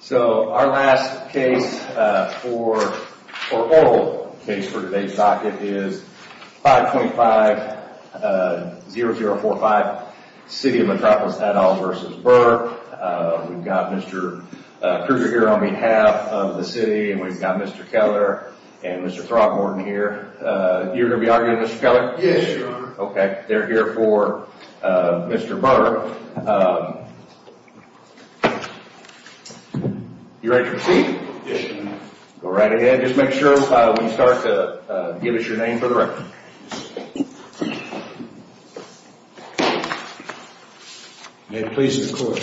So our last case, or oral case for today's docket, is 525-0045, City of Metropolis-Haddoll v. Burr. We've got Mr. Kruger here on behalf of the city, and we've got Mr. Keller and Mr. Throgmorton here. You're going to be arguing, Mr. Keller? Yes, Your Honor. Okay, they're here for Mr. Burr. You ready to proceed? Yes, Your Honor. Go right ahead. Just make sure when you start to give us your name for the record. May it please the Court.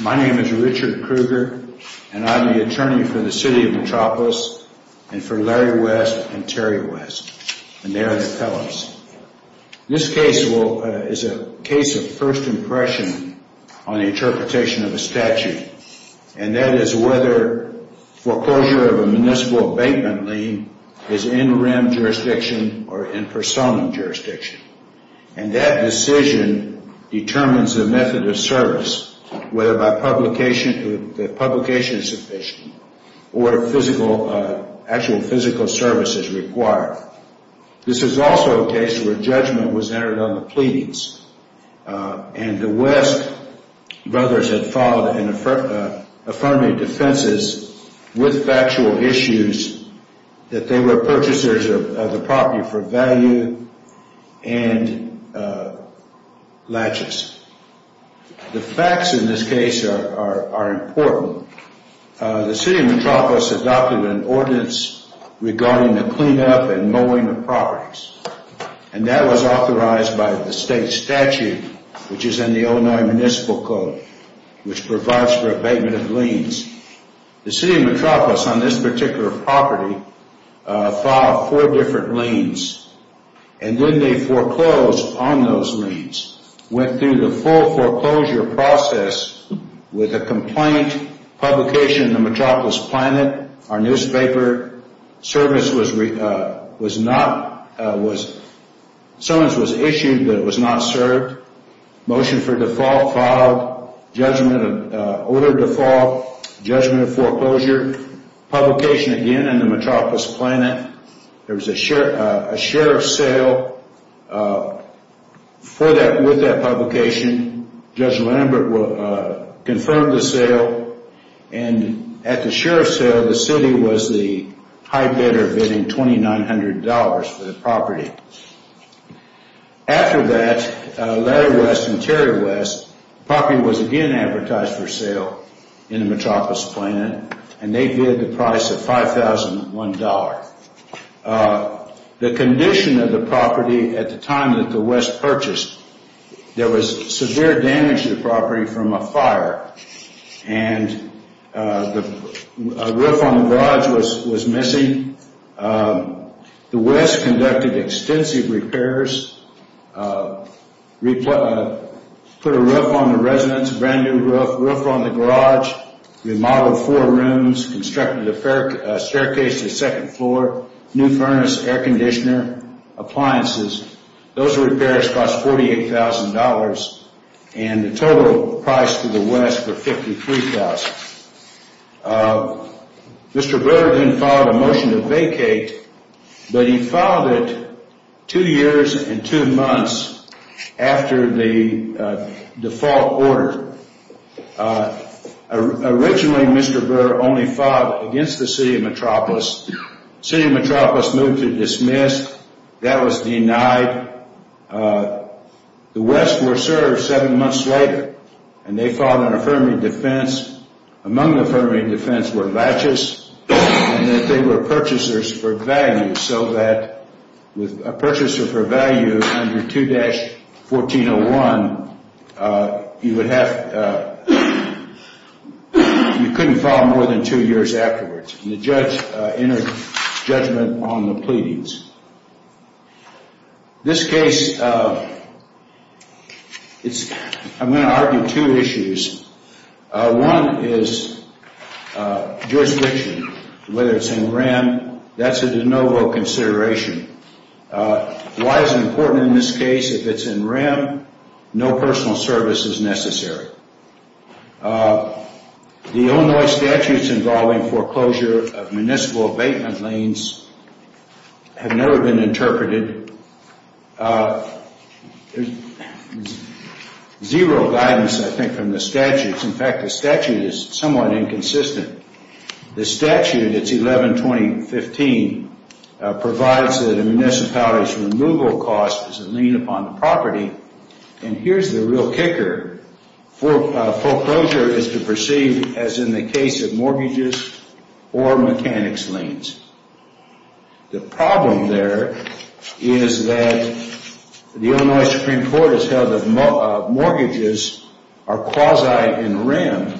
My name is Richard Kruger, and I'm the attorney for the City of Metropolis and for Larry West and Terry West, and they are the Kellers. This case is a case of first impression on the interpretation of a statute, and that is whether foreclosure of a municipal abatement lien is in-rim jurisdiction or in-person jurisdiction. And that decision determines the method of service, whether the publication is sufficient or actual physical service is required. This is also a case where judgment was entered on the pleadings, and the West brothers had filed an affirmative defense with factual issues that they were purchasers of the property for value and latches. The facts in this case are important. The City of Metropolis adopted an ordinance regarding the cleanup and mowing of properties, and that was authorized by the state statute, which is in the Illinois Municipal Code, which provides for abatement of liens. The City of Metropolis on this particular property filed four different liens, and then they foreclosed on those liens, went through the full foreclosure process with a complaint, publication in the Metropolis Planet, our newspaper service was not – summons was issued, but it was not served. Motion for default filed, judgment of – order default, judgment of foreclosure, publication again in the Metropolis Planet. There was a sheriff's sale for that – with that publication. Judge Lambert confirmed the sale, and at the sheriff's sale, the city was the high bidder bidding $2,900 for the property. After that, Larry West and Terry West, the property was again advertised for sale in the Metropolis Planet, and they bid the price of $5,001. The condition of the property at the time that the West purchased, there was severe damage to the property from a fire, and a roof on the garage was missing. The West conducted extensive repairs, put a roof on the residence, a brand-new roof on the garage, remodeled four rooms, constructed a staircase to the second floor, new furnace, air conditioner, appliances. Those repairs cost $48,000, and the total price to the West was $53,000. Mr. Burr then filed a motion to vacate, but he filed it two years and two months after the default order. Originally, Mr. Burr only filed against the city of Metropolis. The city of Metropolis moved to dismiss. That was denied. The West was served seven months later, and they filed an affirmative defense. Among the affirmative defense were latches, and that they were purchasers for value, so that with a purchaser for value under 2-1401, you couldn't file more than two years afterwards. The judge entered judgment on the pleadings. This case, I'm going to argue two issues. One is jurisdiction, whether it's in REM, that's a de novo consideration. Why is it important in this case? If it's in REM, no personal service is necessary. The Illinois statutes involving foreclosure of municipal abatement lanes have never been interpreted. There's zero guidance, I think, from the statutes. In fact, the statute is somewhat inconsistent. The statute, it's 11-2015, provides that a municipality's removal cost is a lien upon the property. And here's the real kicker. Foreclosure is to perceive as in the case of mortgages or mechanics liens. The problem there is that the Illinois Supreme Court has held that mortgages are quasi in REM,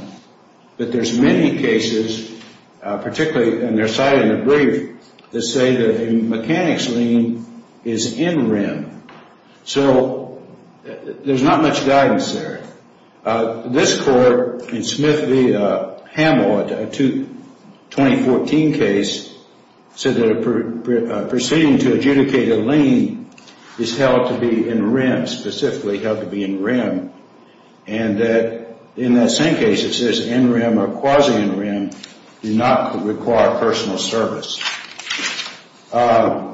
but there's many cases, particularly in their site in the brief, that say that a mechanics lien is in REM. So there's not much guidance there. This court in Smith v. Hamill, a 2014 case, said that proceeding to adjudicate a lien is held to be in REM, specifically held to be in REM, and that in that same case it says in REM or quasi in REM, you're not required personal service. The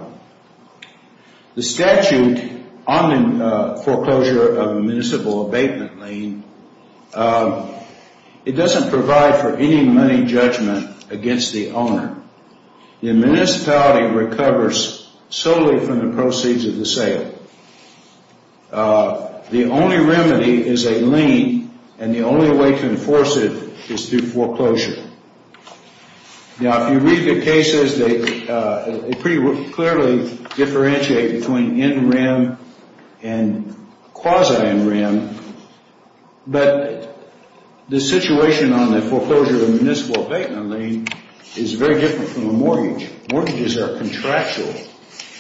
statute on foreclosure of a municipal abatement lane, it doesn't provide for any money judgment against the owner. The municipality recovers solely from the proceeds of the sale. The only remedy is a lien, and the only way to enforce it is through foreclosure. Now, if you read the cases, they pretty clearly differentiate between in REM and quasi in REM, but the situation on the foreclosure of a municipal abatement lane is very different from a mortgage. Mortgages are contractual.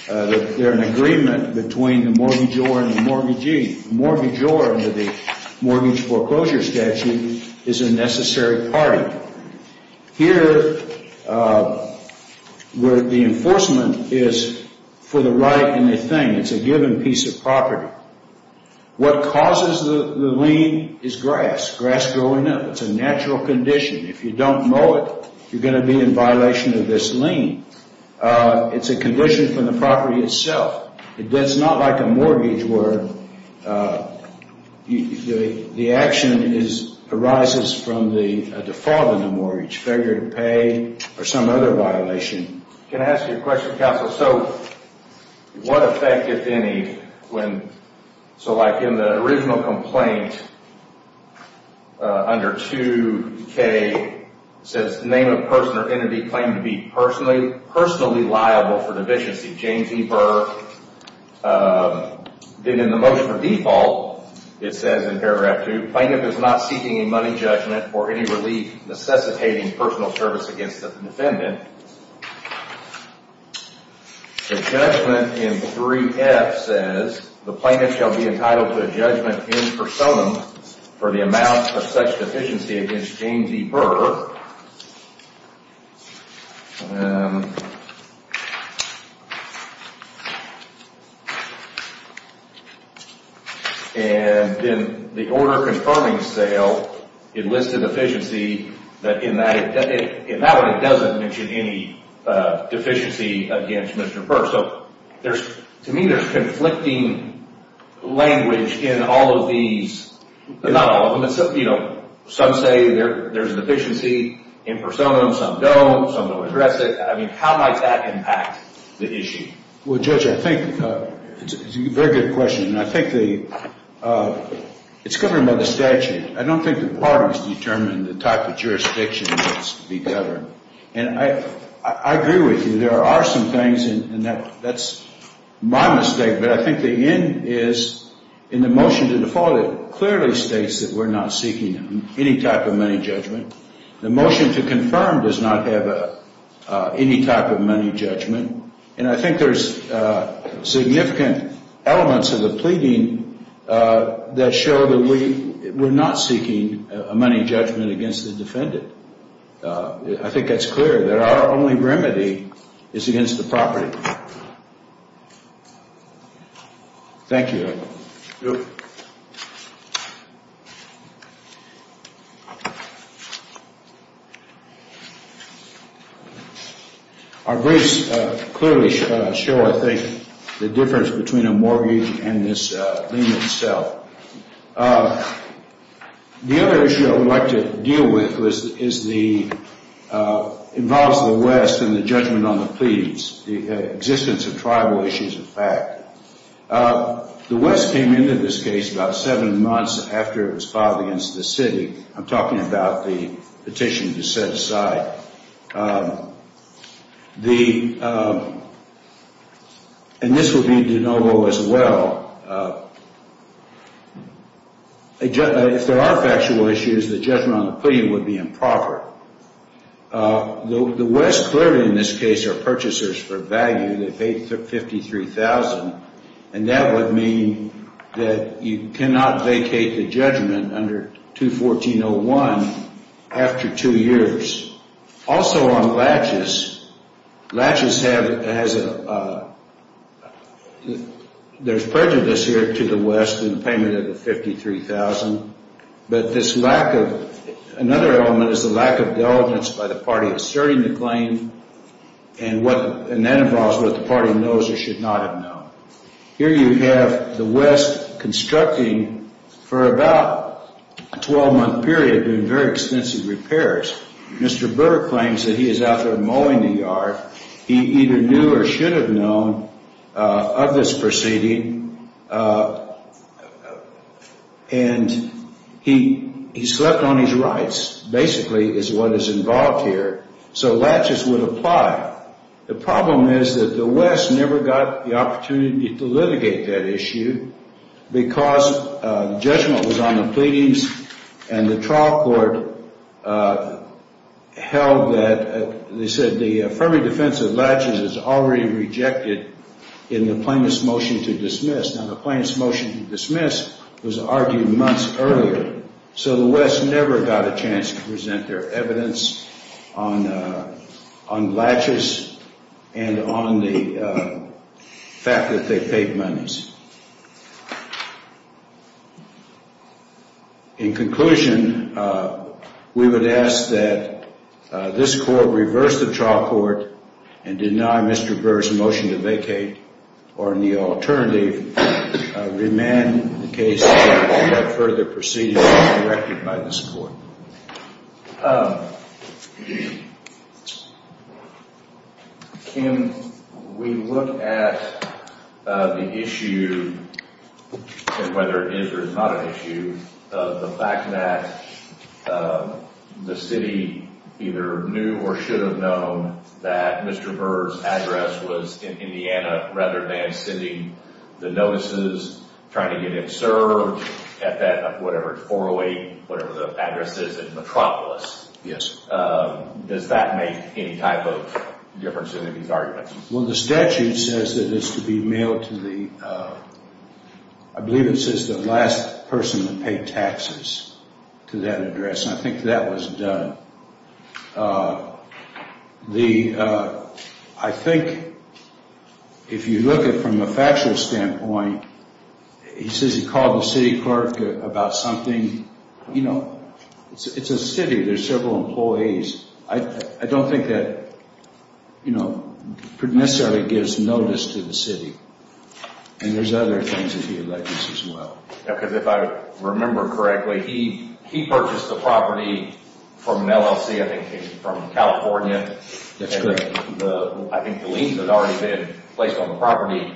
They're an agreement between the mortgagor and the mortgagee. The mortgagor under the mortgage foreclosure statute is a necessary party. Here, where the enforcement is for the right in the thing, it's a given piece of property. What causes the lien is grass, grass growing up. It's a natural condition. If you don't mow it, you're going to be in violation of this lien. It's a condition from the property itself. It's not like a mortgage where the action arises from the default of the mortgage, failure to pay or some other violation. Can I ask you a question, counsel? So what effect, if any, when, so like in the original complaint under 2K, it says name of person or entity claiming to be personally liable for deficiency. James E. Burr did in the motion for default, it says in paragraph 2, plaintiff is not seeking a money judgment or any relief necessitating personal service against the defendant. The judgment in 3F says the plaintiff shall be entitled to a judgment in personam for the amount of such deficiency against James E. Burr. And in the order confirming sale, it lists a deficiency that in that one, it doesn't mention any deficiency against Mr. Burr. So to me, there's conflicting language in all of these, not all of them. Some say there's a deficiency in personam, some don't, some don't address it. I mean, how might that impact the issue? Well, Judge, I think it's a very good question. And I think it's governed by the statute. I don't think the parties determine the type of jurisdiction that's to be governed. And I agree with you. There are some things, and that's my mistake, but I think the end is in the motion to default it clearly states that we're not seeking any type of money judgment. The motion to confirm does not have any type of money judgment. And I think there's significant elements of the pleading that show that we're not seeking a money judgment against the defendant. I think that's clear that our only remedy is against the property. Thank you. You're welcome. Our briefs clearly show, I think, the difference between a mortgage and this lien itself. The other issue I would like to deal with involves the West and the judgment on the pleadings, the existence of tribal issues of fact. The West came into this case about seven months after it was filed against the city. I'm talking about the petition to set aside. And this would be de novo as well. If there are factual issues, the judgment on the plea would be improper. The West clearly in this case are purchasers for value. They paid $53,000, and that would mean that you cannot vacate the judgment under 214.01 after two years. Also on Latches, Latches has a – there's prejudice here to the West in payment of the $53,000. But this lack of – another element is the lack of diligence by the party asserting the claim, and that involves what the party knows or should not have known. Here you have the West constructing for about a 12-month period, doing very extensive repairs. Mr. Burr claims that he is out there mowing the yard. He either knew or should have known of this proceeding, and he slept on his rights, basically, is what is involved here. So Latches would apply. The problem is that the West never got the opportunity to litigate that issue because the judgment was on the pleadings, and the trial court held that – they said the affirming defense of Latches is already rejected in the plaintiff's motion to dismiss. Now, the plaintiff's motion to dismiss was argued months earlier, so the West never got a chance to present their evidence on Latches and on the fact that they paid monies. In conclusion, we would ask that this court reverse the trial court and deny Mr. Burr's motion to vacate or, in the alternative, remand the case to get further proceedings directed by this court. Can we look at the issue, and whether it is or is not an issue, of the fact that the city either knew or should have known that Mr. Burr's address was in Indiana rather than sending the notices trying to get him served at that, whatever, 408, whatever the address is in Metropolis. Yes. Does that make any type of difference in any of these arguments? Well, the statute says that it's to be mailed to the – I believe it says the last person to pay taxes to that address, and I think that was done. The – I think if you look at it from a factual standpoint, he says he called the city clerk about something – you know, it's a city. There's several employees. I don't think that, you know, necessarily gives notice to the city, and there's other things that he alleges as well. Because if I remember correctly, he purchased the property from an LLC, I think from California. That's correct. And I think the liens had already been placed on the property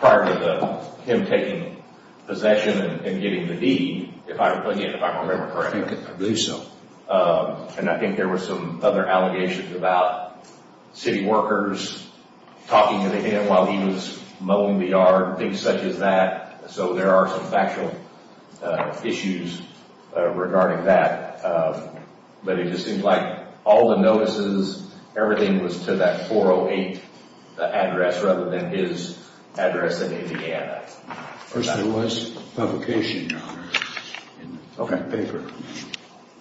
prior to him taking possession and getting the deed, if I remember correctly. I believe so. And I think there were some other allegations about city workers talking to him while he was mowing the yard, things such as that. So there are some factual issues regarding that. But it just seems like all the notices, everything was to that 408 address rather than his address in Indiana. First, there was publication in that paper.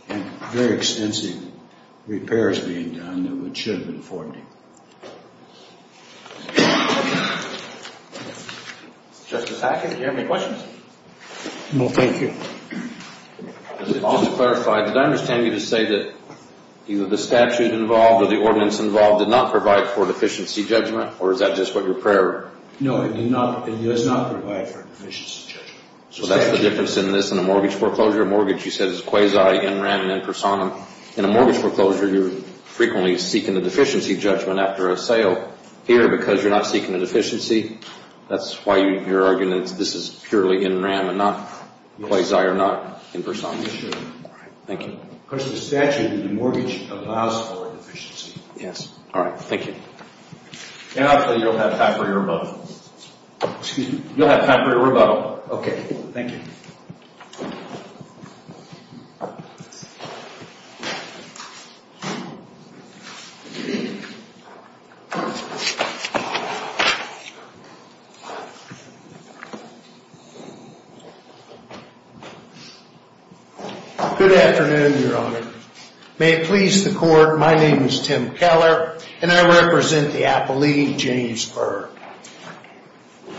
And very extensive repairs being done that should have been afforded him. Justice Hackett, do you have any questions? No, thank you. Just to clarify, did I understand you to say that either the statute involved or the ordinance involved did not provide for deficiency judgment, or is that just what you're preparing? No, it did not. It does not provide for deficiency judgment. So that's the difference in this in a mortgage foreclosure? A mortgage, you said, is quasi, in rem, and in personam. In a mortgage foreclosure, you're frequently seeking a deficiency judgment after a statute. You're not seeking it for sale here because you're not seeking a deficiency. That's why you're arguing that this is purely in rem and not quasi or not in personam. Yes, sir. Thank you. Because the statute in the mortgage allows for a deficiency. Yes. All right. Thank you. And I'll tell you, you'll have time for your rebuttal. Excuse me? You'll have time for your rebuttal. Okay. Thank you. Good afternoon, Your Honor. May it please the court, my name is Tim Keller, and I represent the appellee, James Berg.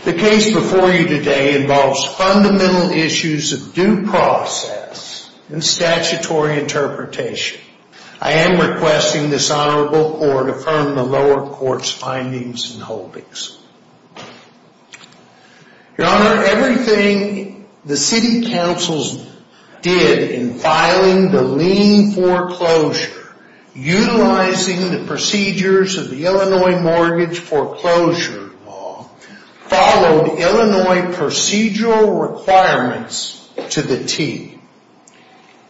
The case before you today involves fundamental issues of due process and statutory interpretation. I am requesting this honorable court affirm the lower court's ruling. Your Honor, everything the city councils did in filing the lien foreclosure, utilizing the procedures of the Illinois Mortgage Foreclosure Law, followed Illinois procedural requirements to the T,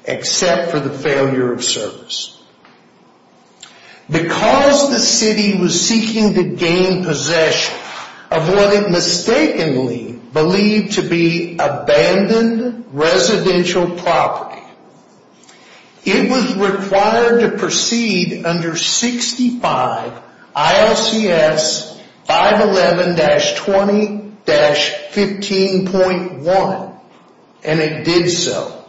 except for the failure of service. Because the city was seeking to gain possession of what it mistakenly believed to be abandoned residential property, it was required to proceed under 65 ILCS 511-20-15.1, and it did so.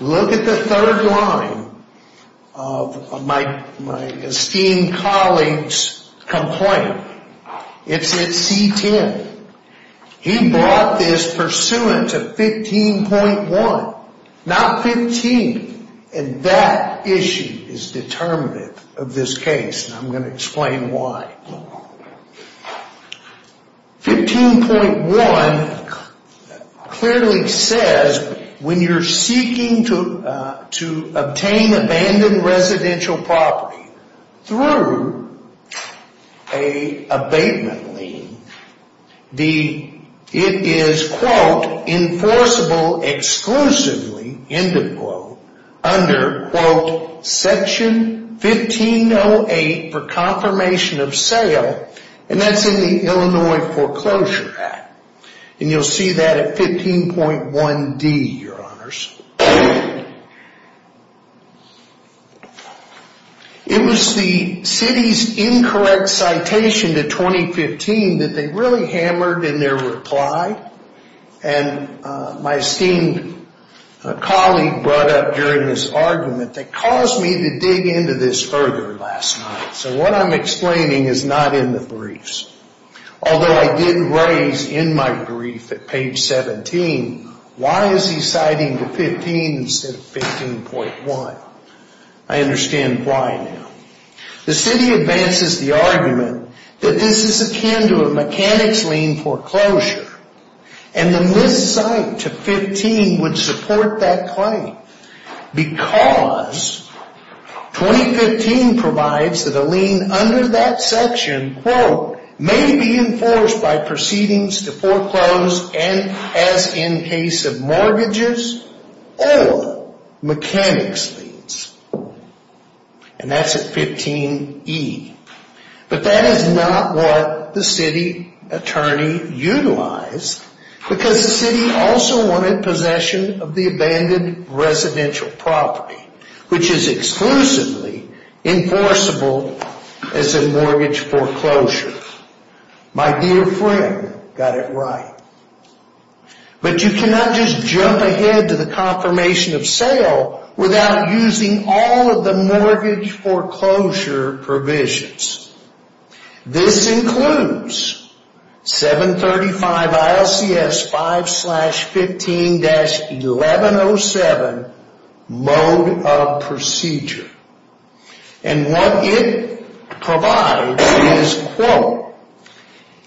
Look at the third line of my esteemed colleague's complaint. It's in C-10. He brought this pursuant to 15.1, not 15. And that issue is determinative of this case, and I'm going to explain why. 15.1 clearly says when you're seeking to obtain abandoned residential property through an abatement lien, it is, quote, enforceable exclusively, end of quote, under, quote, section 1508 for confirmation of sale, and that's in the Illinois Foreclosure Act. And you'll see that at 15.1D, Your Honors. It was the city's incorrect citation to 2015 that they really hammered in their reply, and my esteemed colleague brought up during this argument that caused me to dig into this further last night. So what I'm explaining is not in the briefs. Although I did raise in my brief at page 17, why is he citing to 15 instead of 15.1? I understand why now. The city advances the argument that this is akin to a mechanics lien foreclosure, and the miscite to 15 would support that claim because 2015 provides that a lien under that section, quote, may be enforced by proceedings to foreclose and as in case of mortgages or mechanics liens. And that's at 15.E. But that is not what the city attorney utilized because the city also wanted possession of the abandoned residential property, which is exclusively enforceable as a mortgage foreclosure. My dear friend got it right. But you cannot just jump ahead to the confirmation of sale without using all of the mortgage foreclosure provisions. This includes 735 ILCS 5 slash 15 dash 1107 mode of procedure. And what it provides is, quote,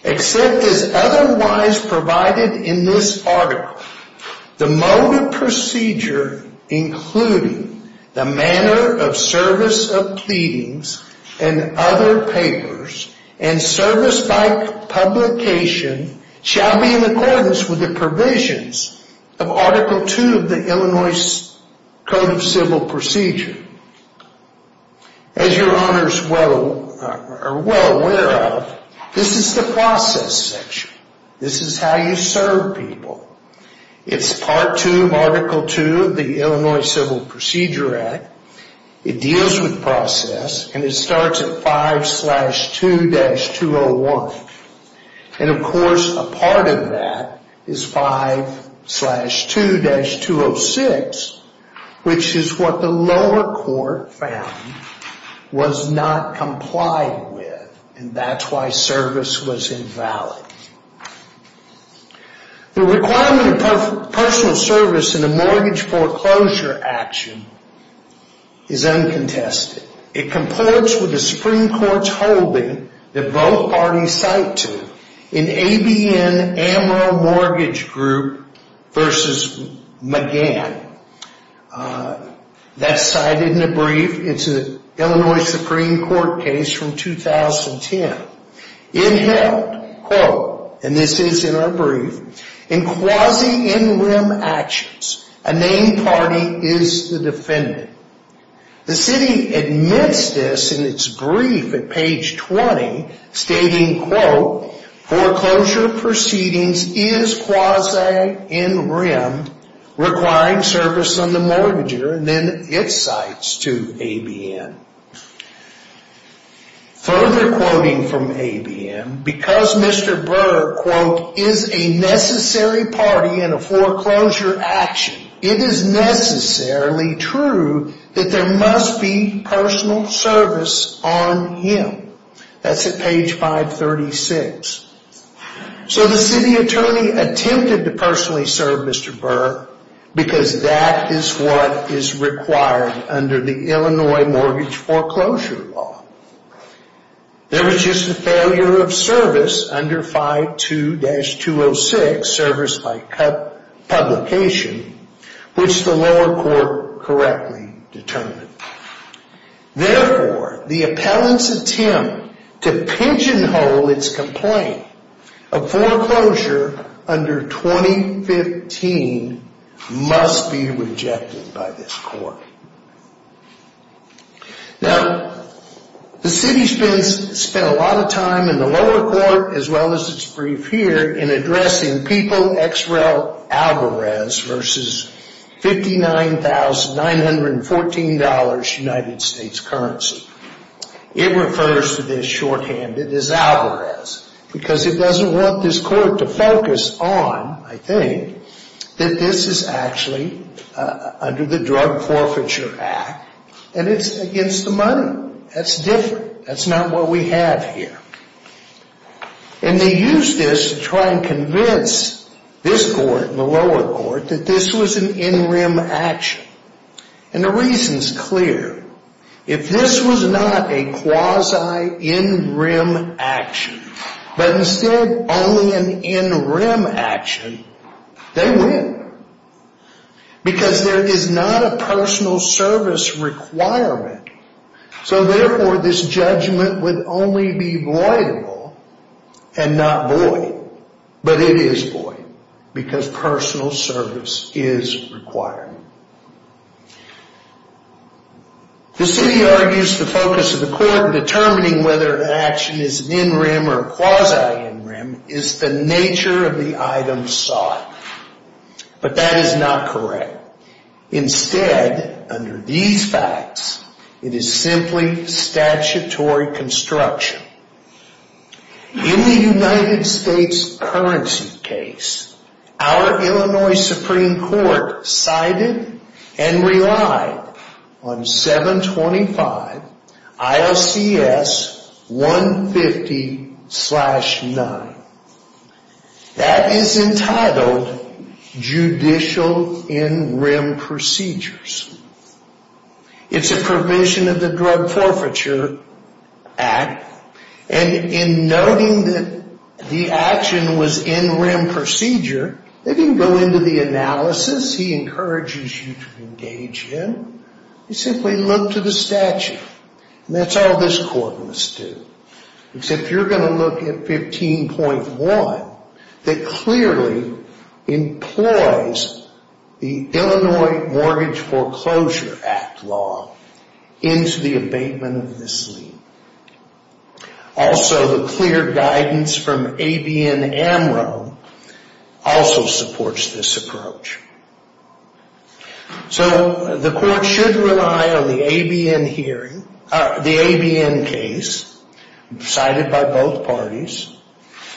except as otherwise provided in this article, the mode of procedure including the manner of service of pleadings and other papers and service by publication shall be in accordance with the provisions of Article II of the Illinois Code of Civil Procedure. As your honors are well aware of, this is the process section. This is how you serve people. It's part two of Article II of the Illinois Civil Procedure Act. It deals with process and it starts at 5 slash 2 dash 201. And of course, a part of that is 5 slash 2 dash 206, which is what the lower court found was not complied with. And that's why service was invalid. The requirement of personal service in a mortgage foreclosure action is uncontested. It comports with the Supreme Court's holding that both parties cite to in ABN Amaro Mortgage Group v. McGann. That's cited in a brief. It's an Illinois Supreme Court case from 2010. It held, quote, and this is in our brief, in quasi-in-rim actions, a named party is the defendant. The city admits this in its brief at page 20, stating, quote, foreclosure proceedings is quasi-in-rim, requiring service on the mortgager, and then it cites to ABN. Further quoting from ABN, because Mr. Burr, quote, is a necessary party in a foreclosure action, it is necessarily true that there must be personal service on him. That's at page 536. So the city attorney attempted to personally serve Mr. Burr, because that is what is required under the Illinois Mortgage Foreclosure Law. There was just a failure of service under 5-2-206, service by publication, which the lower court correctly determined. Therefore, the appellant's attempt to pigeonhole its complaint of foreclosure under 2015 must be rejected by this court. Now, the city spent a lot of time in the lower court, as well as its brief here, in addressing PEOPLE XREL Alvarez versus $59,914 United States currency. It refers to this shorthanded as Alvarez, because it doesn't want this court to focus on, I think, that this is actually under the Drug Forfeiture Act, and it's against the money. That's different. That's not what we have here. And they used this to try and convince this court, the lower court, that this was an in-rim action. And the reason's clear. If this was not a quasi-in-rim action, but instead only an in-rim action, they win. Because there is not a personal service requirement. So, therefore, this judgment would only be voidable, and not void. But it is void, because personal service is required. The city argues the focus of the court in determining whether an action is an in-rim or a quasi-in-rim is the nature of the item sought. But that is not correct. Instead, under these facts, it is simply statutory construction. In the United States currency case, our Illinois Supreme Court cited and relied on 725 ILCS 150-9. That is entitled Judicial In-Rim Procedures. It's a provision of the Drug Forfeiture Act. And in noting that the action was in-rim procedure, they didn't go into the analysis. He encourages you to engage him. You simply look to the statute. And that's all this court must do. Except you're going to look at 15.1 that clearly employs the Illinois Mortgage Foreclosure Act law into the abatement of this lien. Also, the clear guidance from ABN-AMRO also supports this approach. So the court should rely on the ABN case cited by both parties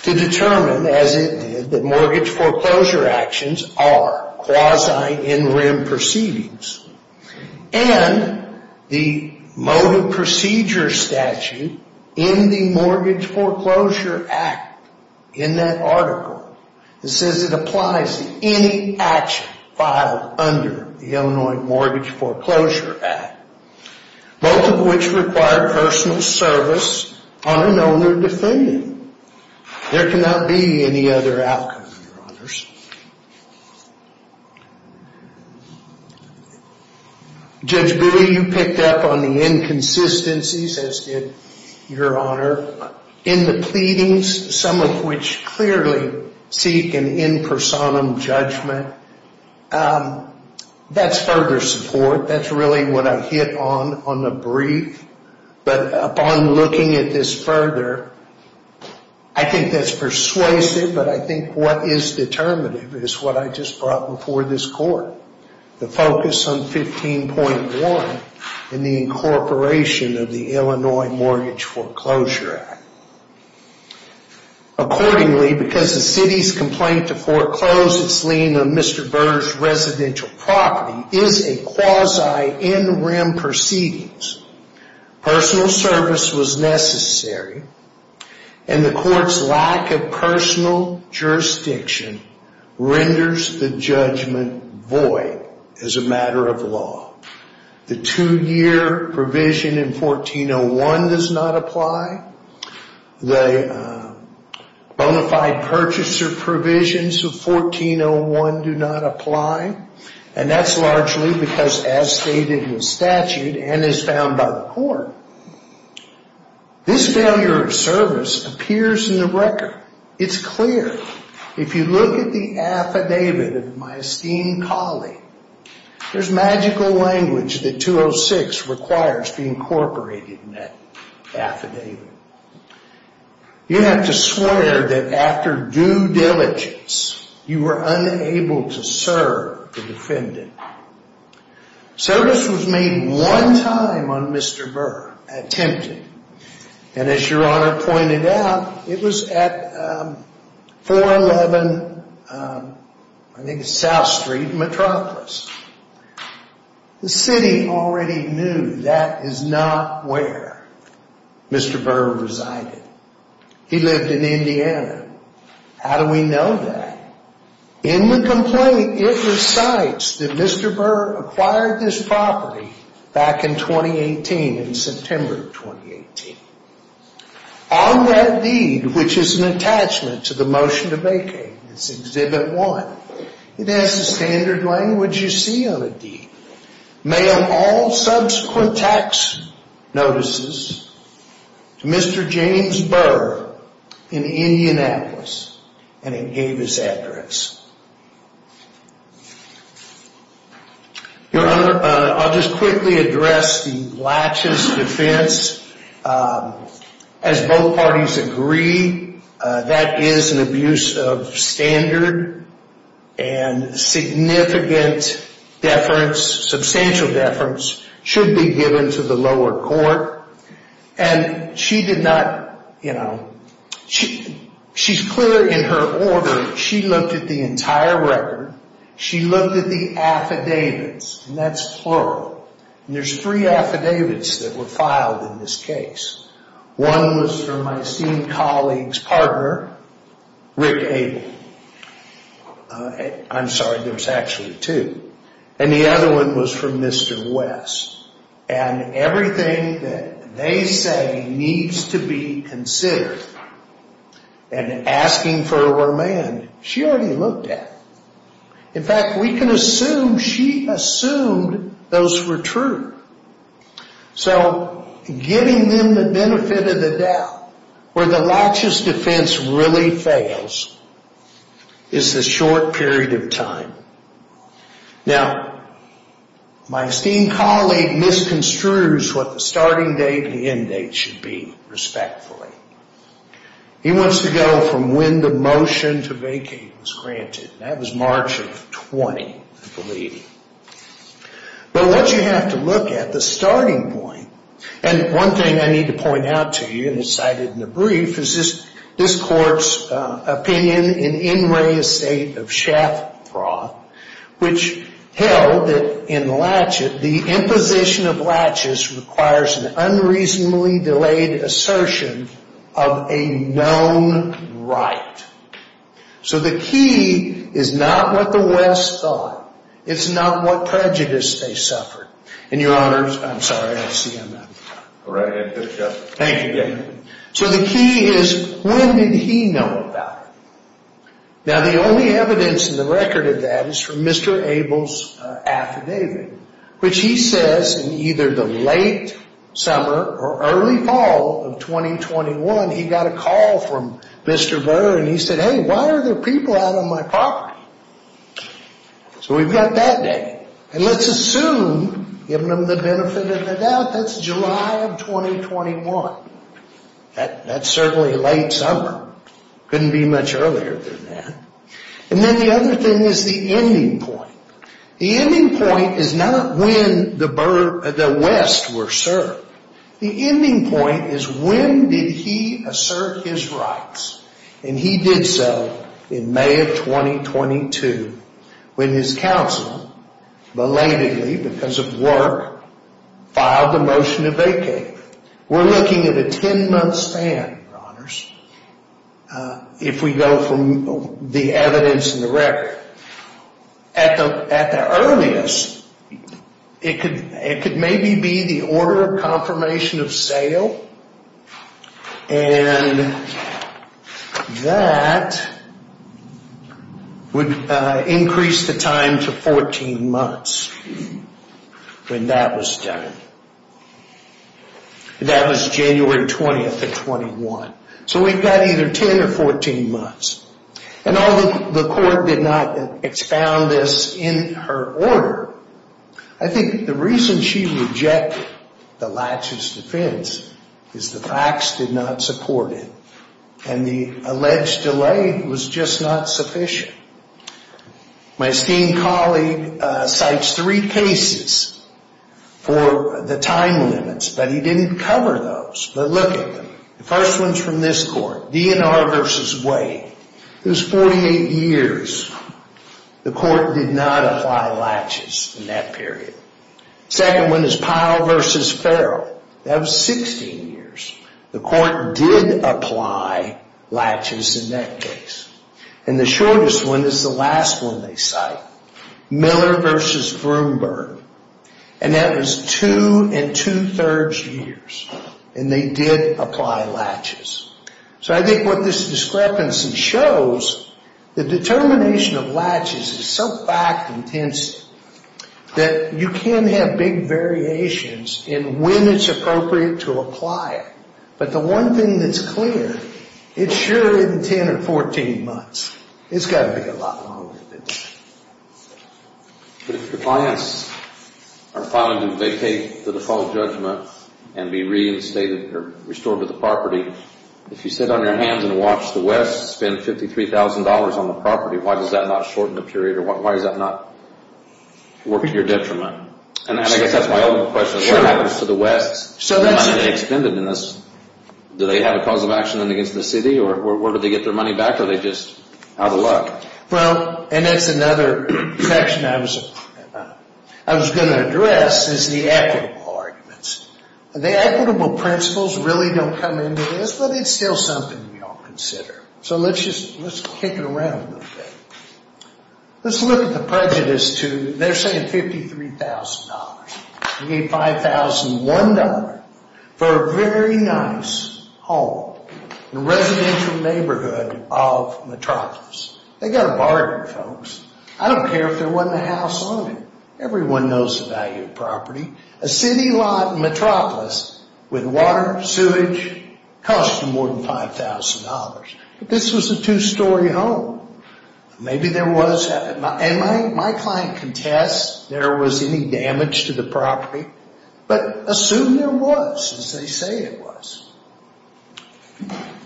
to determine, as it did, that mortgage foreclosure actions are quasi-in-rim proceedings. And the motive procedure statute in the Mortgage Foreclosure Act, in that article, it says it applies to any action filed under the Illinois Mortgage Foreclosure Act. Both of which require personal service on an owner-defendant. There cannot be any other outcome, Your Honors. Judge Bowie, you picked up on the inconsistencies, as did Your Honor, in the pleadings. Some of which clearly seek an in personam judgment. That's further support. That's really what I hit on on the brief. But upon looking at this further, I think that's persuasive. But I think what is determinative is what I just brought before this court. The focus on 15.1 and the incorporation of the Illinois Mortgage Foreclosure Act. Accordingly, because the city's complaint to foreclose its lien on Mr. Burr's residential property is a quasi-in-rim proceedings, personal service was necessary. And the court's lack of personal jurisdiction renders the judgment void as a matter of law. The two-year provision in 1401 does not apply. The bona fide purchaser provisions of 1401 do not apply. And that's largely because as stated in statute and as found by the court, this failure of service appears in the record. It's clear. If you look at the affidavit of my esteemed colleague, there's magical language that 206 requires to be incorporated in that affidavit. You have to swear that after due diligence, you were unable to serve the defendant. Service was made one time on Mr. Burr, attempted. And as Your Honor pointed out, it was at 411, I think it's South Street, Metropolis. The city already knew that is not where Mr. Burr resided. He lived in Indiana. How do we know that? In the complaint, it recites that Mr. Burr acquired this property back in 2018, in September of 2018. On that deed, which is an attachment to the motion to vacate, it's Exhibit 1, it has the standard language you see on the deed. Mail all subsequent tax notices to Mr. James Burr in Indianapolis. And it gave his address. Your Honor, I'll just quickly address the Blatches defense. As both parties agree, that is an abuse of standard. And significant deference, substantial deference, should be given to the lower court. And she did not, you know, she's clear in her order. She looked at the entire record. She looked at the affidavits, and that's plural. And there's three affidavits that were filed in this case. One was from my esteemed colleague's partner, Rick Abel. I'm sorry, there was actually two. And the other one was from Mr. West. And everything that they say needs to be considered, and asking for a remand, she already looked at. In fact, we can assume she assumed those were true. So giving them the benefit of the doubt, where the Blatches defense really fails, is the short period of time. Now, my esteemed colleague misconstrues what the starting date and the end date should be, respectfully. He wants to go from when the motion to vacate was granted. And that was March of 20, I believe. But what you have to look at, the starting point, and one thing I need to point out to you, and it's cited in the brief, is this court's opinion in In Re Estate of Schaffroth, which held that in Blatches, the imposition of Blatches requires an unreasonably delayed assertion of a known right. So the key is not what the West thought. It's not what prejudice they suffered. And your honors, I'm sorry, I see him. All right. Thank you. So the key is, when did he know about it? Now, the only evidence in the record of that is from Mr. Abel's affidavit, which he says in either the late summer or early fall of 2021, he got a call from Mr. Burr, and he said, hey, why are there people out on my property? So we've got that date. And let's assume, giving them the benefit of the doubt, that's July of 2021. That's certainly late summer. Couldn't be much earlier than that. And then the other thing is the ending point. The ending point is not when the West were served. The ending point is, when did he assert his rights? And he did so in May of 2022, when his counsel, belatedly because of work, filed a motion to vacate. We're looking at a 10-month span, your honors, if we go from the evidence in the record. At the earliest, it could maybe be the order of confirmation of sale, and that would increase the time to 14 months when that was done. That was January 20th of 21. So we've got either 10 or 14 months. And although the court did not expound this in her order, I think the reason she rejected the laches defense is the facts did not support it, and the alleged delay was just not sufficient. My esteemed colleague cites three cases for the time limits, but he didn't cover those. But look at them. The first one's from this court, DNR v. Wade. It was 48 years. The court did not apply laches in that period. The second one is Pyle v. Farrell. That was 16 years. The court did apply laches in that case. And the shortest one is the last one they cite, Miller v. Vroomberg. And that was two and two-thirds years, and they did apply laches. So I think what this discrepancy shows, the determination of laches is so fact-intensive that you can have big variations in when it's appropriate to apply it. But the one thing that's clear, it sure isn't 10 or 14 months. It's got to be a lot longer than that. But if the clients are finding that they take the default judgment and be reinstated or restored to the property, if you sit on your hands and watch the West spend $53,000 on the property, why does that not shorten the period, or why does that not work to your detriment? And I guess that's my only question. What happens to the West's money they expended in this? Do they have a cause of action against the city, or where do they get their money back? Or are they just out of luck? Well, and that's another section I was going to address, is the equitable arguments. The equitable principles really don't come into this, but it's still something we all consider. So let's kick it around a little bit. Let's look at the prejudice to, they're saying $53,000. They gave $5,001 for a very nice home in a residential neighborhood of Metropolis. They got a bargain, folks. I don't care if there wasn't a house on it. Everyone knows the value of property. A city lot in Metropolis with water, sewage, cost you more than $5,000. But this was a two-story home. Maybe there was, and my client contests there was any damage to the property, but assume there was, as they say it was.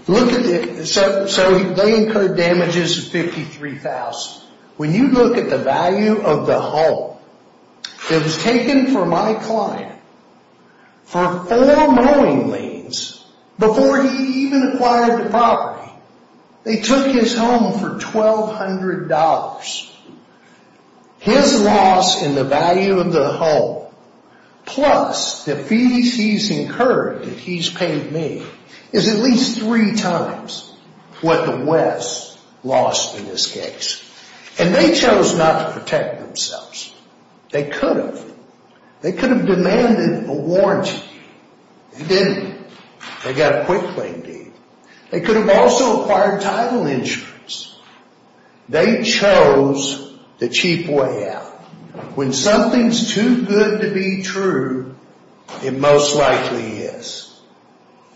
So they incurred damages of $53,000. When you look at the value of the home, it was taken from my client for four mowing liens before he even acquired the property. They took his home for $1,200. His loss in the value of the home plus the fees he's incurred that he's paid me is at least three times what the West lost in this case. And they chose not to protect themselves. They could have. They could have demanded a warranty. They didn't. They got a quick claim deed. They could have also acquired title insurance. They chose the cheap way out. When something's too good to be true, it most likely is.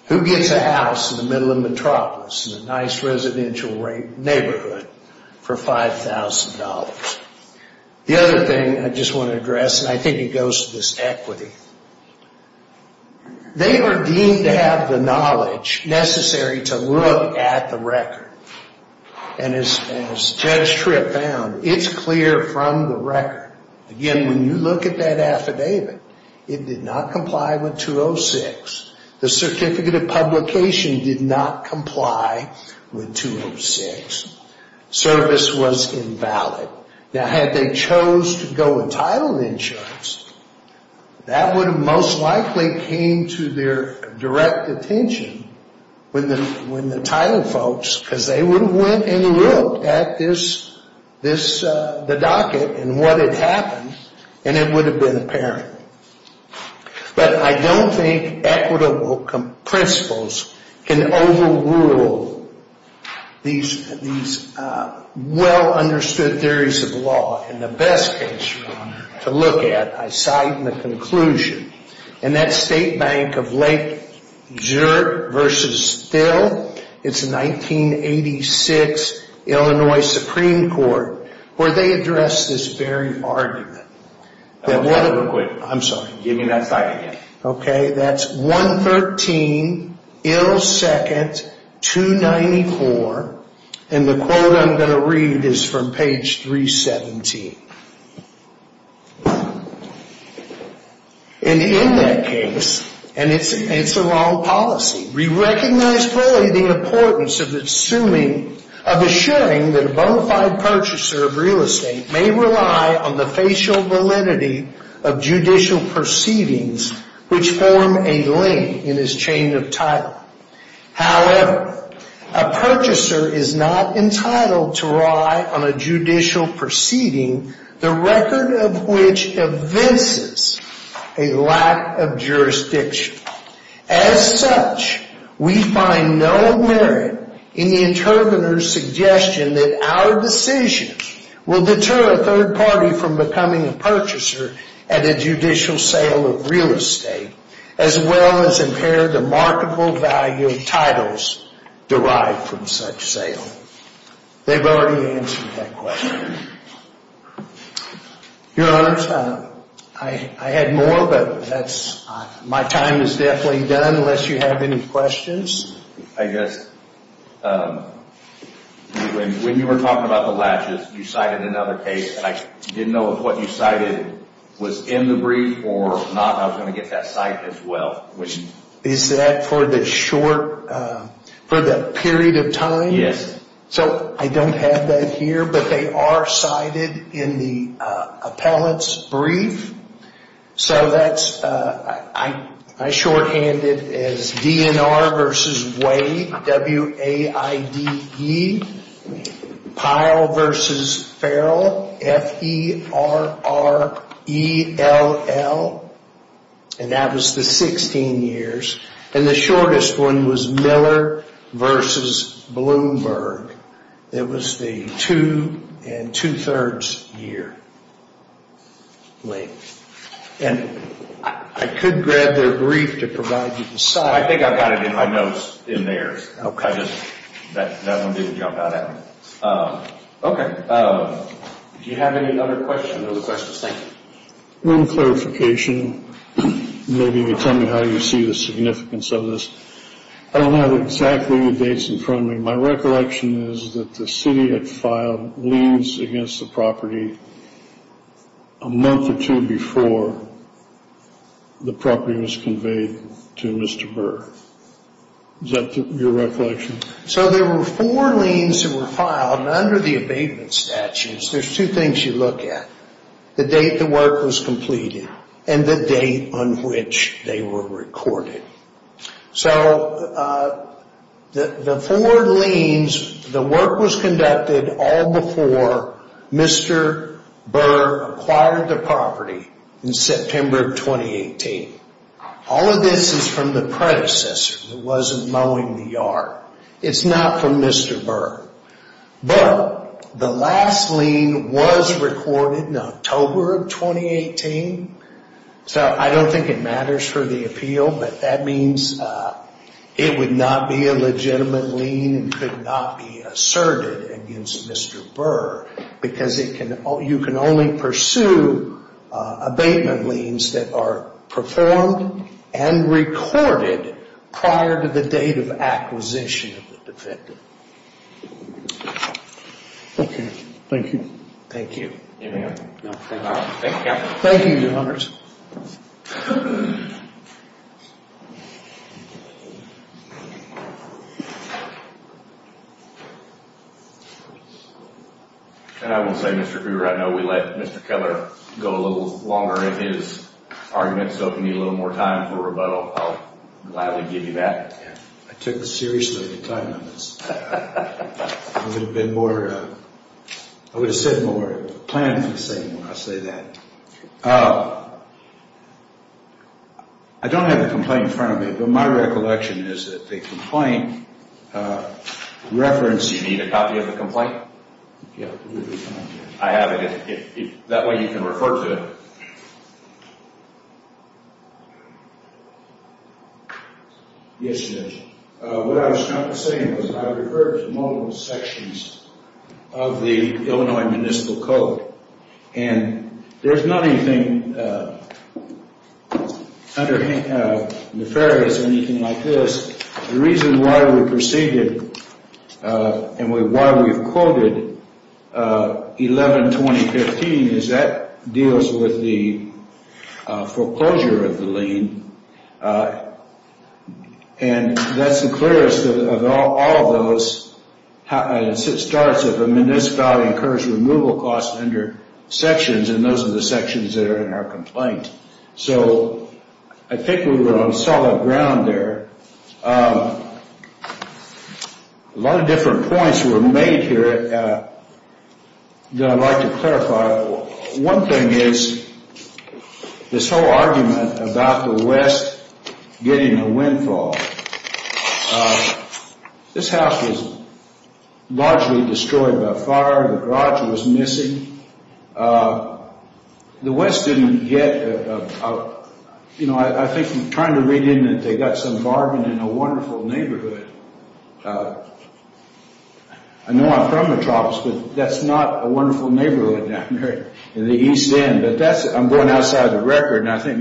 Who gets a house in the middle of Metropolis in a nice residential neighborhood for $5,000? The other thing I just want to address, and I think it goes to this equity, they are deemed to have the knowledge necessary to look at the record. And as Judge Tripp found, it's clear from the record. Again, when you look at that affidavit, it did not comply with 206. The certificate of publication did not comply with 206. Service was invalid. Now, had they chose to go with title insurance, that would have most likely came to their direct attention when the title folks, because they would have went and looked at the docket and what had happened, and it would have been apparent. But I don't think equitable principles can overrule these well-understood theories of law. And the best case to look at, I cite in the conclusion, in that state bank of Lake Zurich versus Still, it's a 1986 Illinois Supreme Court, where they addressed this very argument. I'm sorry, give me that slide again. Okay, that's 113 Ill Second 294, and the quote I'm going to read is from page 317. And in that case, and it's a wrong policy, we recognize fully the importance of assuring that a bona fide purchaser of real estate may rely on the facial validity of judicial proceedings, which form a link in his chain of title. However, a purchaser is not entitled to rely on a judicial proceeding, the record of which evinces a lack of jurisdiction. As such, we find no merit in the intervener's suggestion that our decision will deter a third party from becoming a purchaser at a judicial sale of real estate, as well as impair the marketable value of titles derived from such sale. They've already answered that question. Your Honor, I had more, but my time is definitely done unless you have any questions. I guess when you were talking about the latches, you cited another case, and I didn't know if what you cited was in the brief or not, and I was going to get that cite as well. Is that for the short, for the period of time? Yes. So I don't have that here, but they are cited in the appellate's brief. So that's, I shorthanded it as DNR versus Wade, W-A-I-D-E. Pyle versus Farrell, F-E-R-R-E-L-L. And that was the 16 years. And the shortest one was Miller versus Bloomberg. It was the two and two-thirds year length. And I could grab their brief to provide you the cite. I think I've got it in my notes in there. Okay. I just, that one didn't jump out at me. Okay. Do you have any other questions? No questions. Thank you. One clarification, maybe you can tell me how you see the significance of this. I don't have exactly the dates in front of me. My recollection is that the city had filed liens against the property a month or two before the property was conveyed to Mr. Burr. Is that your recollection? So there were four liens that were filed. And under the abatement statutes, there's two things you look at, the date the work was completed and the date on which they were recorded. So the four liens, the work was conducted all before Mr. Burr acquired the property in September of 2018. All of this is from the predecessor. It wasn't mowing the yard. It's not from Mr. Burr. But the last lien was recorded in October of 2018. So I don't think it matters for the appeal, but that means it would not be a legitimate lien and could not be asserted against Mr. Burr. Because you can only pursue abatement liens that are performed and recorded prior to the date of acquisition of the defendant. Okay. Thank you. Thank you. Thank you. Thank you. And I will say, Mr. Cooper, I know we let Mr. Keller go a little longer in his argument. So if you need a little more time for rebuttal, I'll gladly give you that. I took seriously the time on this. I would have said more, planned for the same when I say that. I don't have the complaint in front of me, but my recollection is that the complaint referenced Do you need a copy of the complaint? Yeah. I have it. That way you can refer to it. Yes, Judge. What I was trying to say was that I referred to multiple sections of the Illinois Municipal Code. And there's nothing nefarious or anything like this. The reason why we proceeded and why we've quoted 11-2015 is that deals with the foreclosure of the lien. And that's the clearest of all of those. It starts with a municipality incurs removal costs under sections, and those are the sections that are in our complaint. So I think we were on solid ground there. A lot of different points were made here that I'd like to clarify. One thing is this whole argument about the West getting a windfall. This house was largely destroyed by fire. The garage was missing. The West didn't get a, you know, I think I'm trying to read in that they got some bargain in a wonderful neighborhood. I know I'm from the tropics, but that's not a wonderful neighborhood down there in the East End. But I'm going outside the record, and I think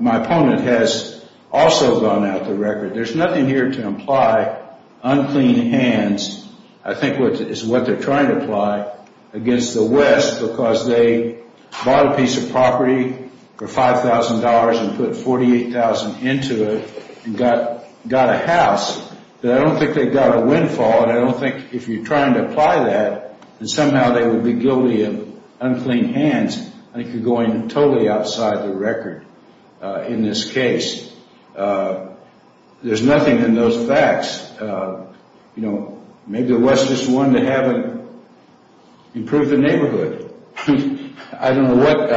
my opponent has also gone out the record. There's nothing here to imply unclean hands. I think it's what they're trying to imply against the West because they bought a piece of property for $5,000 and put $48,000 into it and got a house. But I don't think they got a windfall, and I don't think if you're trying to apply that, that somehow they would be guilty of unclean hands. I think you're going totally outside the record in this case. There's nothing in those facts. You know, maybe the West just wanted to improve the neighborhood. I don't know what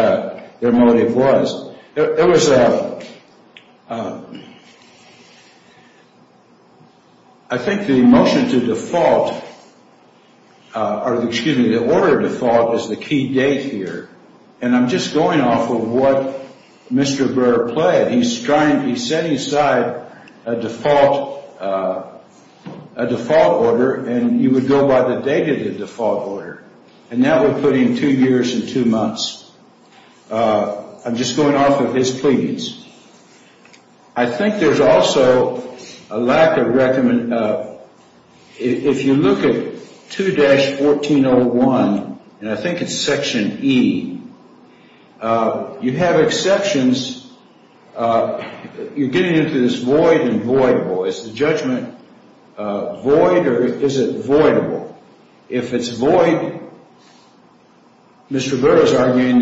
their motive was. There was a, I think the motion to default, or excuse me, the order to default is the key date here, and I'm just going off of what Mr. Brewer played. He's setting aside a default order, and you would go by the date of the default order, and that would put him two years and two months. I'm just going off of his pleadings. I think there's also a lack of recommendation. If you look at 2-1401, and I think it's Section E, you have exceptions. You're getting into this void and voidable. Is the judgment void or is it voidable? If it's void, Mr. Brewer is arguing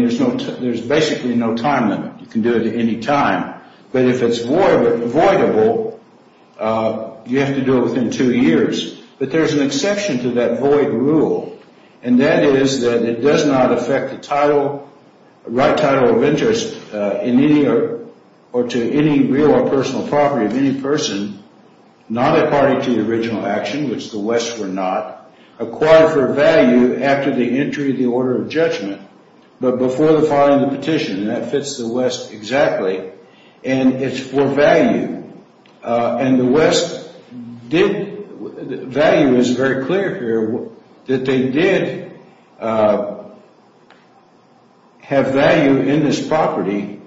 there's basically no time limit. You can do it at any time. But if it's voidable, you have to do it within two years. But there's an exception to that void rule, and that is that it does not affect the title, the right title of interest in any or to any real or personal property of any person, not according to the original action, which the West were not, acquired for value after the entry of the order of judgment, but before the filing of the petition, and that fits the West exactly, and it's for value. And the West did – value is very clear here – that they did have value in this property.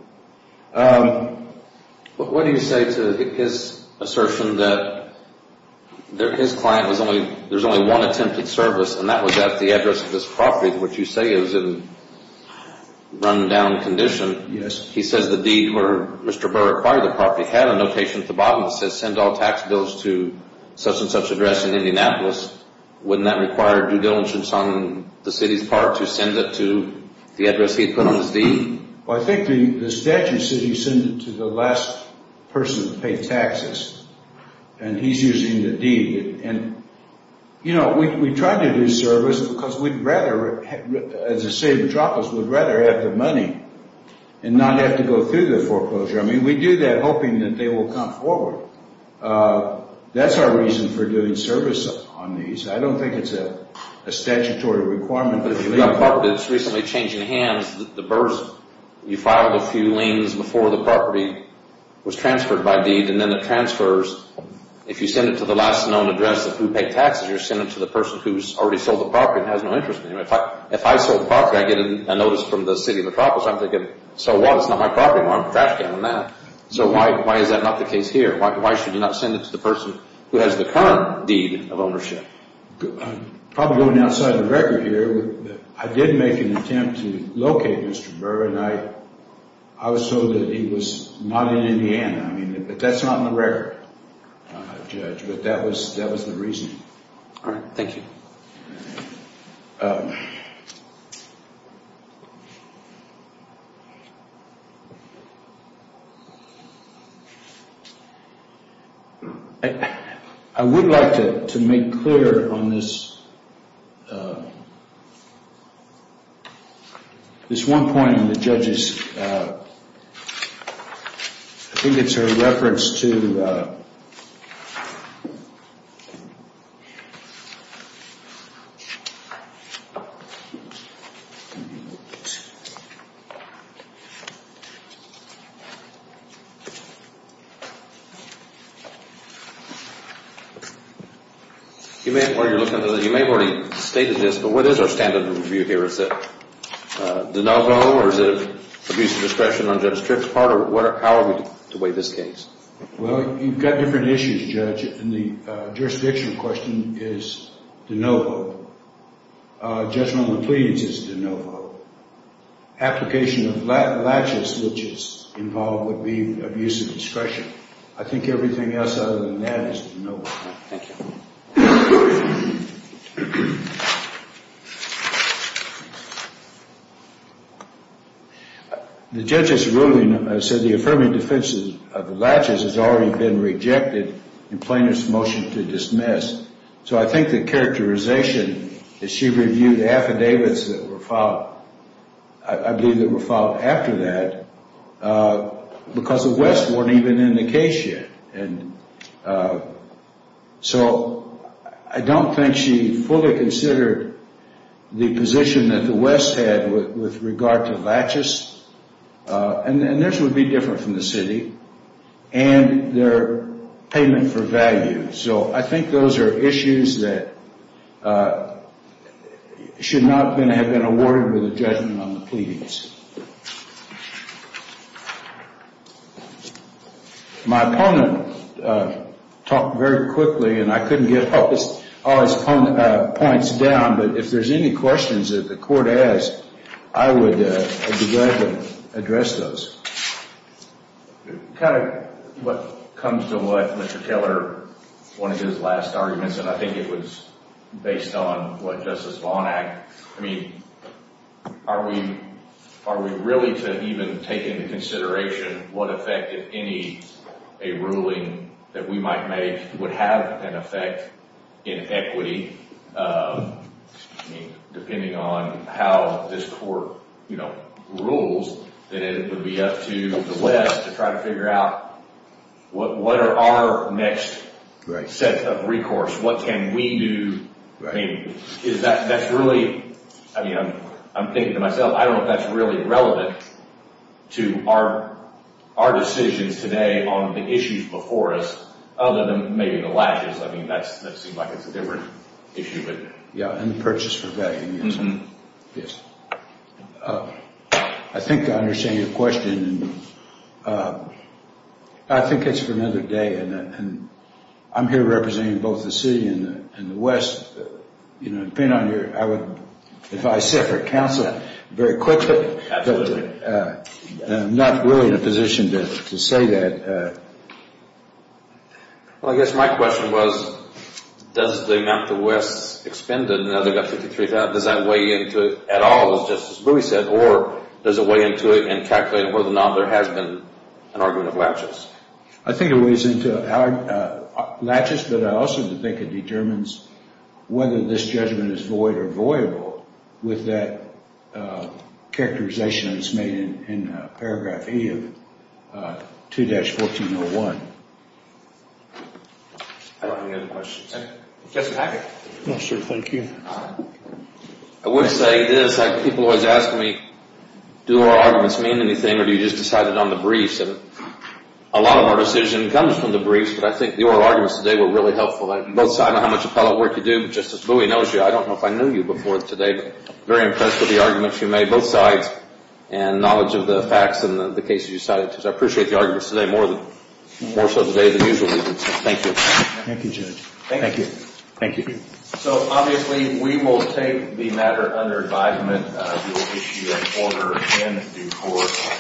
But what do you say to his assertion that his client was only – there's only one attempted service, and that was at the address of this property, which you say is in run-down condition? Yes. He says the deed where Mr. Brewer acquired the property had a notation at the bottom that says send all tax bills to such-and-such address in Indianapolis. Wouldn't that require due diligence on the city's part to send it to the address he put on his deed? Well, I think the statute said he sent it to the last person to pay taxes, and he's using the deed. And, you know, we try to do service because we'd rather, as a city of Metropolis, we'd rather have the money and not have to go through the foreclosure. I mean, we do that hoping that they will come forward. That's our reason for doing service on these. I don't think it's a statutory requirement. But if you've got a property that's recently changed hands, the burrs, you filed a few liens before the property was transferred by deed, and then it transfers. If you send it to the last known address of who paid taxes, you're sending it to the person who's already sold the property and has no interest in it. If I sold the property, I get a notice from the city of Metropolis. I'm thinking, so what? It's not my property anymore. I'm trash canning that. So why is that not the case here? Why should you not send it to the person who has the current deed of ownership? I'm probably going outside the record here. I did make an attempt to locate Mr. Burr, and I was told that he was not in Indiana. But that's not in the record, Judge, but that was the reasoning. All right. Thank you. I would like to make clear on this one point. I think it's a reference to— You may have already stated this, but what is our standard of review here? Is it de novo or is it abuse of discretion on Judge Tripp's part, or how are we to weigh this case? Well, you've got different issues, Judge, and the jurisdictional question is de novo. Judgment of the plea is de novo. Application of latches, which is involved, would be abuse of discretion. I think everything else other than that is de novo. Thank you. The judge's ruling said the affirming defense of the latches has already been rejected, and plaintiff's motion to dismiss. So I think the characterization is she reviewed the affidavits that were filed— I believe that were filed after that because the West weren't even in the case yet. And so I don't think she fully considered the position that the West had with regard to latches, and this would be different from the city, and their payment for value. So I think those are issues that should not have been awarded with a judgment on the pleadings. My opponent talked very quickly, and I couldn't get all his points down, but if there's any questions that the court has, I would be glad to address those. Kind of what comes to what Mr. Taylor, one of his last arguments, and I think it was based on what Justice Vaughn asked, I mean, are we really to even take into consideration what effect, if any, a ruling that we might make would have an effect in equity? I mean, depending on how this court, you know, rules, then it would be up to the West to try to figure out what are our next set of recourse? What can we do? I mean, that's really, I mean, I'm thinking to myself, I don't know if that's really relevant to our decisions today on the issues before us, other than maybe the latches. I mean, that seems like it's a different issue. Yeah, and the purchase for value. I think I understand your question, and I think it's for another day, and I'm here representing both the city and the West. Depending on your, I would advise separate counsel very quickly. I'm not really in a position to say that. Well, I guess my question was, does the amount the West expended, now they've got $53,000, does that weigh into it at all, as Justice Bowie said, or does it weigh into it and calculate whether or not there has been an argument of latches? I think it weighs into latches, but I also think it determines whether this judgment is void or voyable with that characterization that's made in paragraph E of 2-1401. Any other questions? Yes, sir. No, sir, thank you. I would say this. People always ask me, do our arguments mean anything, or do you just decide it on the briefs? A lot of our decision comes from the briefs, but I think the oral arguments today were really helpful, both sides on how much appellate work you do. Justice Bowie knows you. I don't know if I knew you before today, but I'm very impressed with the arguments you made, both sides, and knowledge of the facts and the cases you cited. I appreciate the arguments today more so today than usually. Thank you. Thank you, Judge. Thank you. Thank you. So, obviously, we will take the matter under advisement. We will issue an order in due course.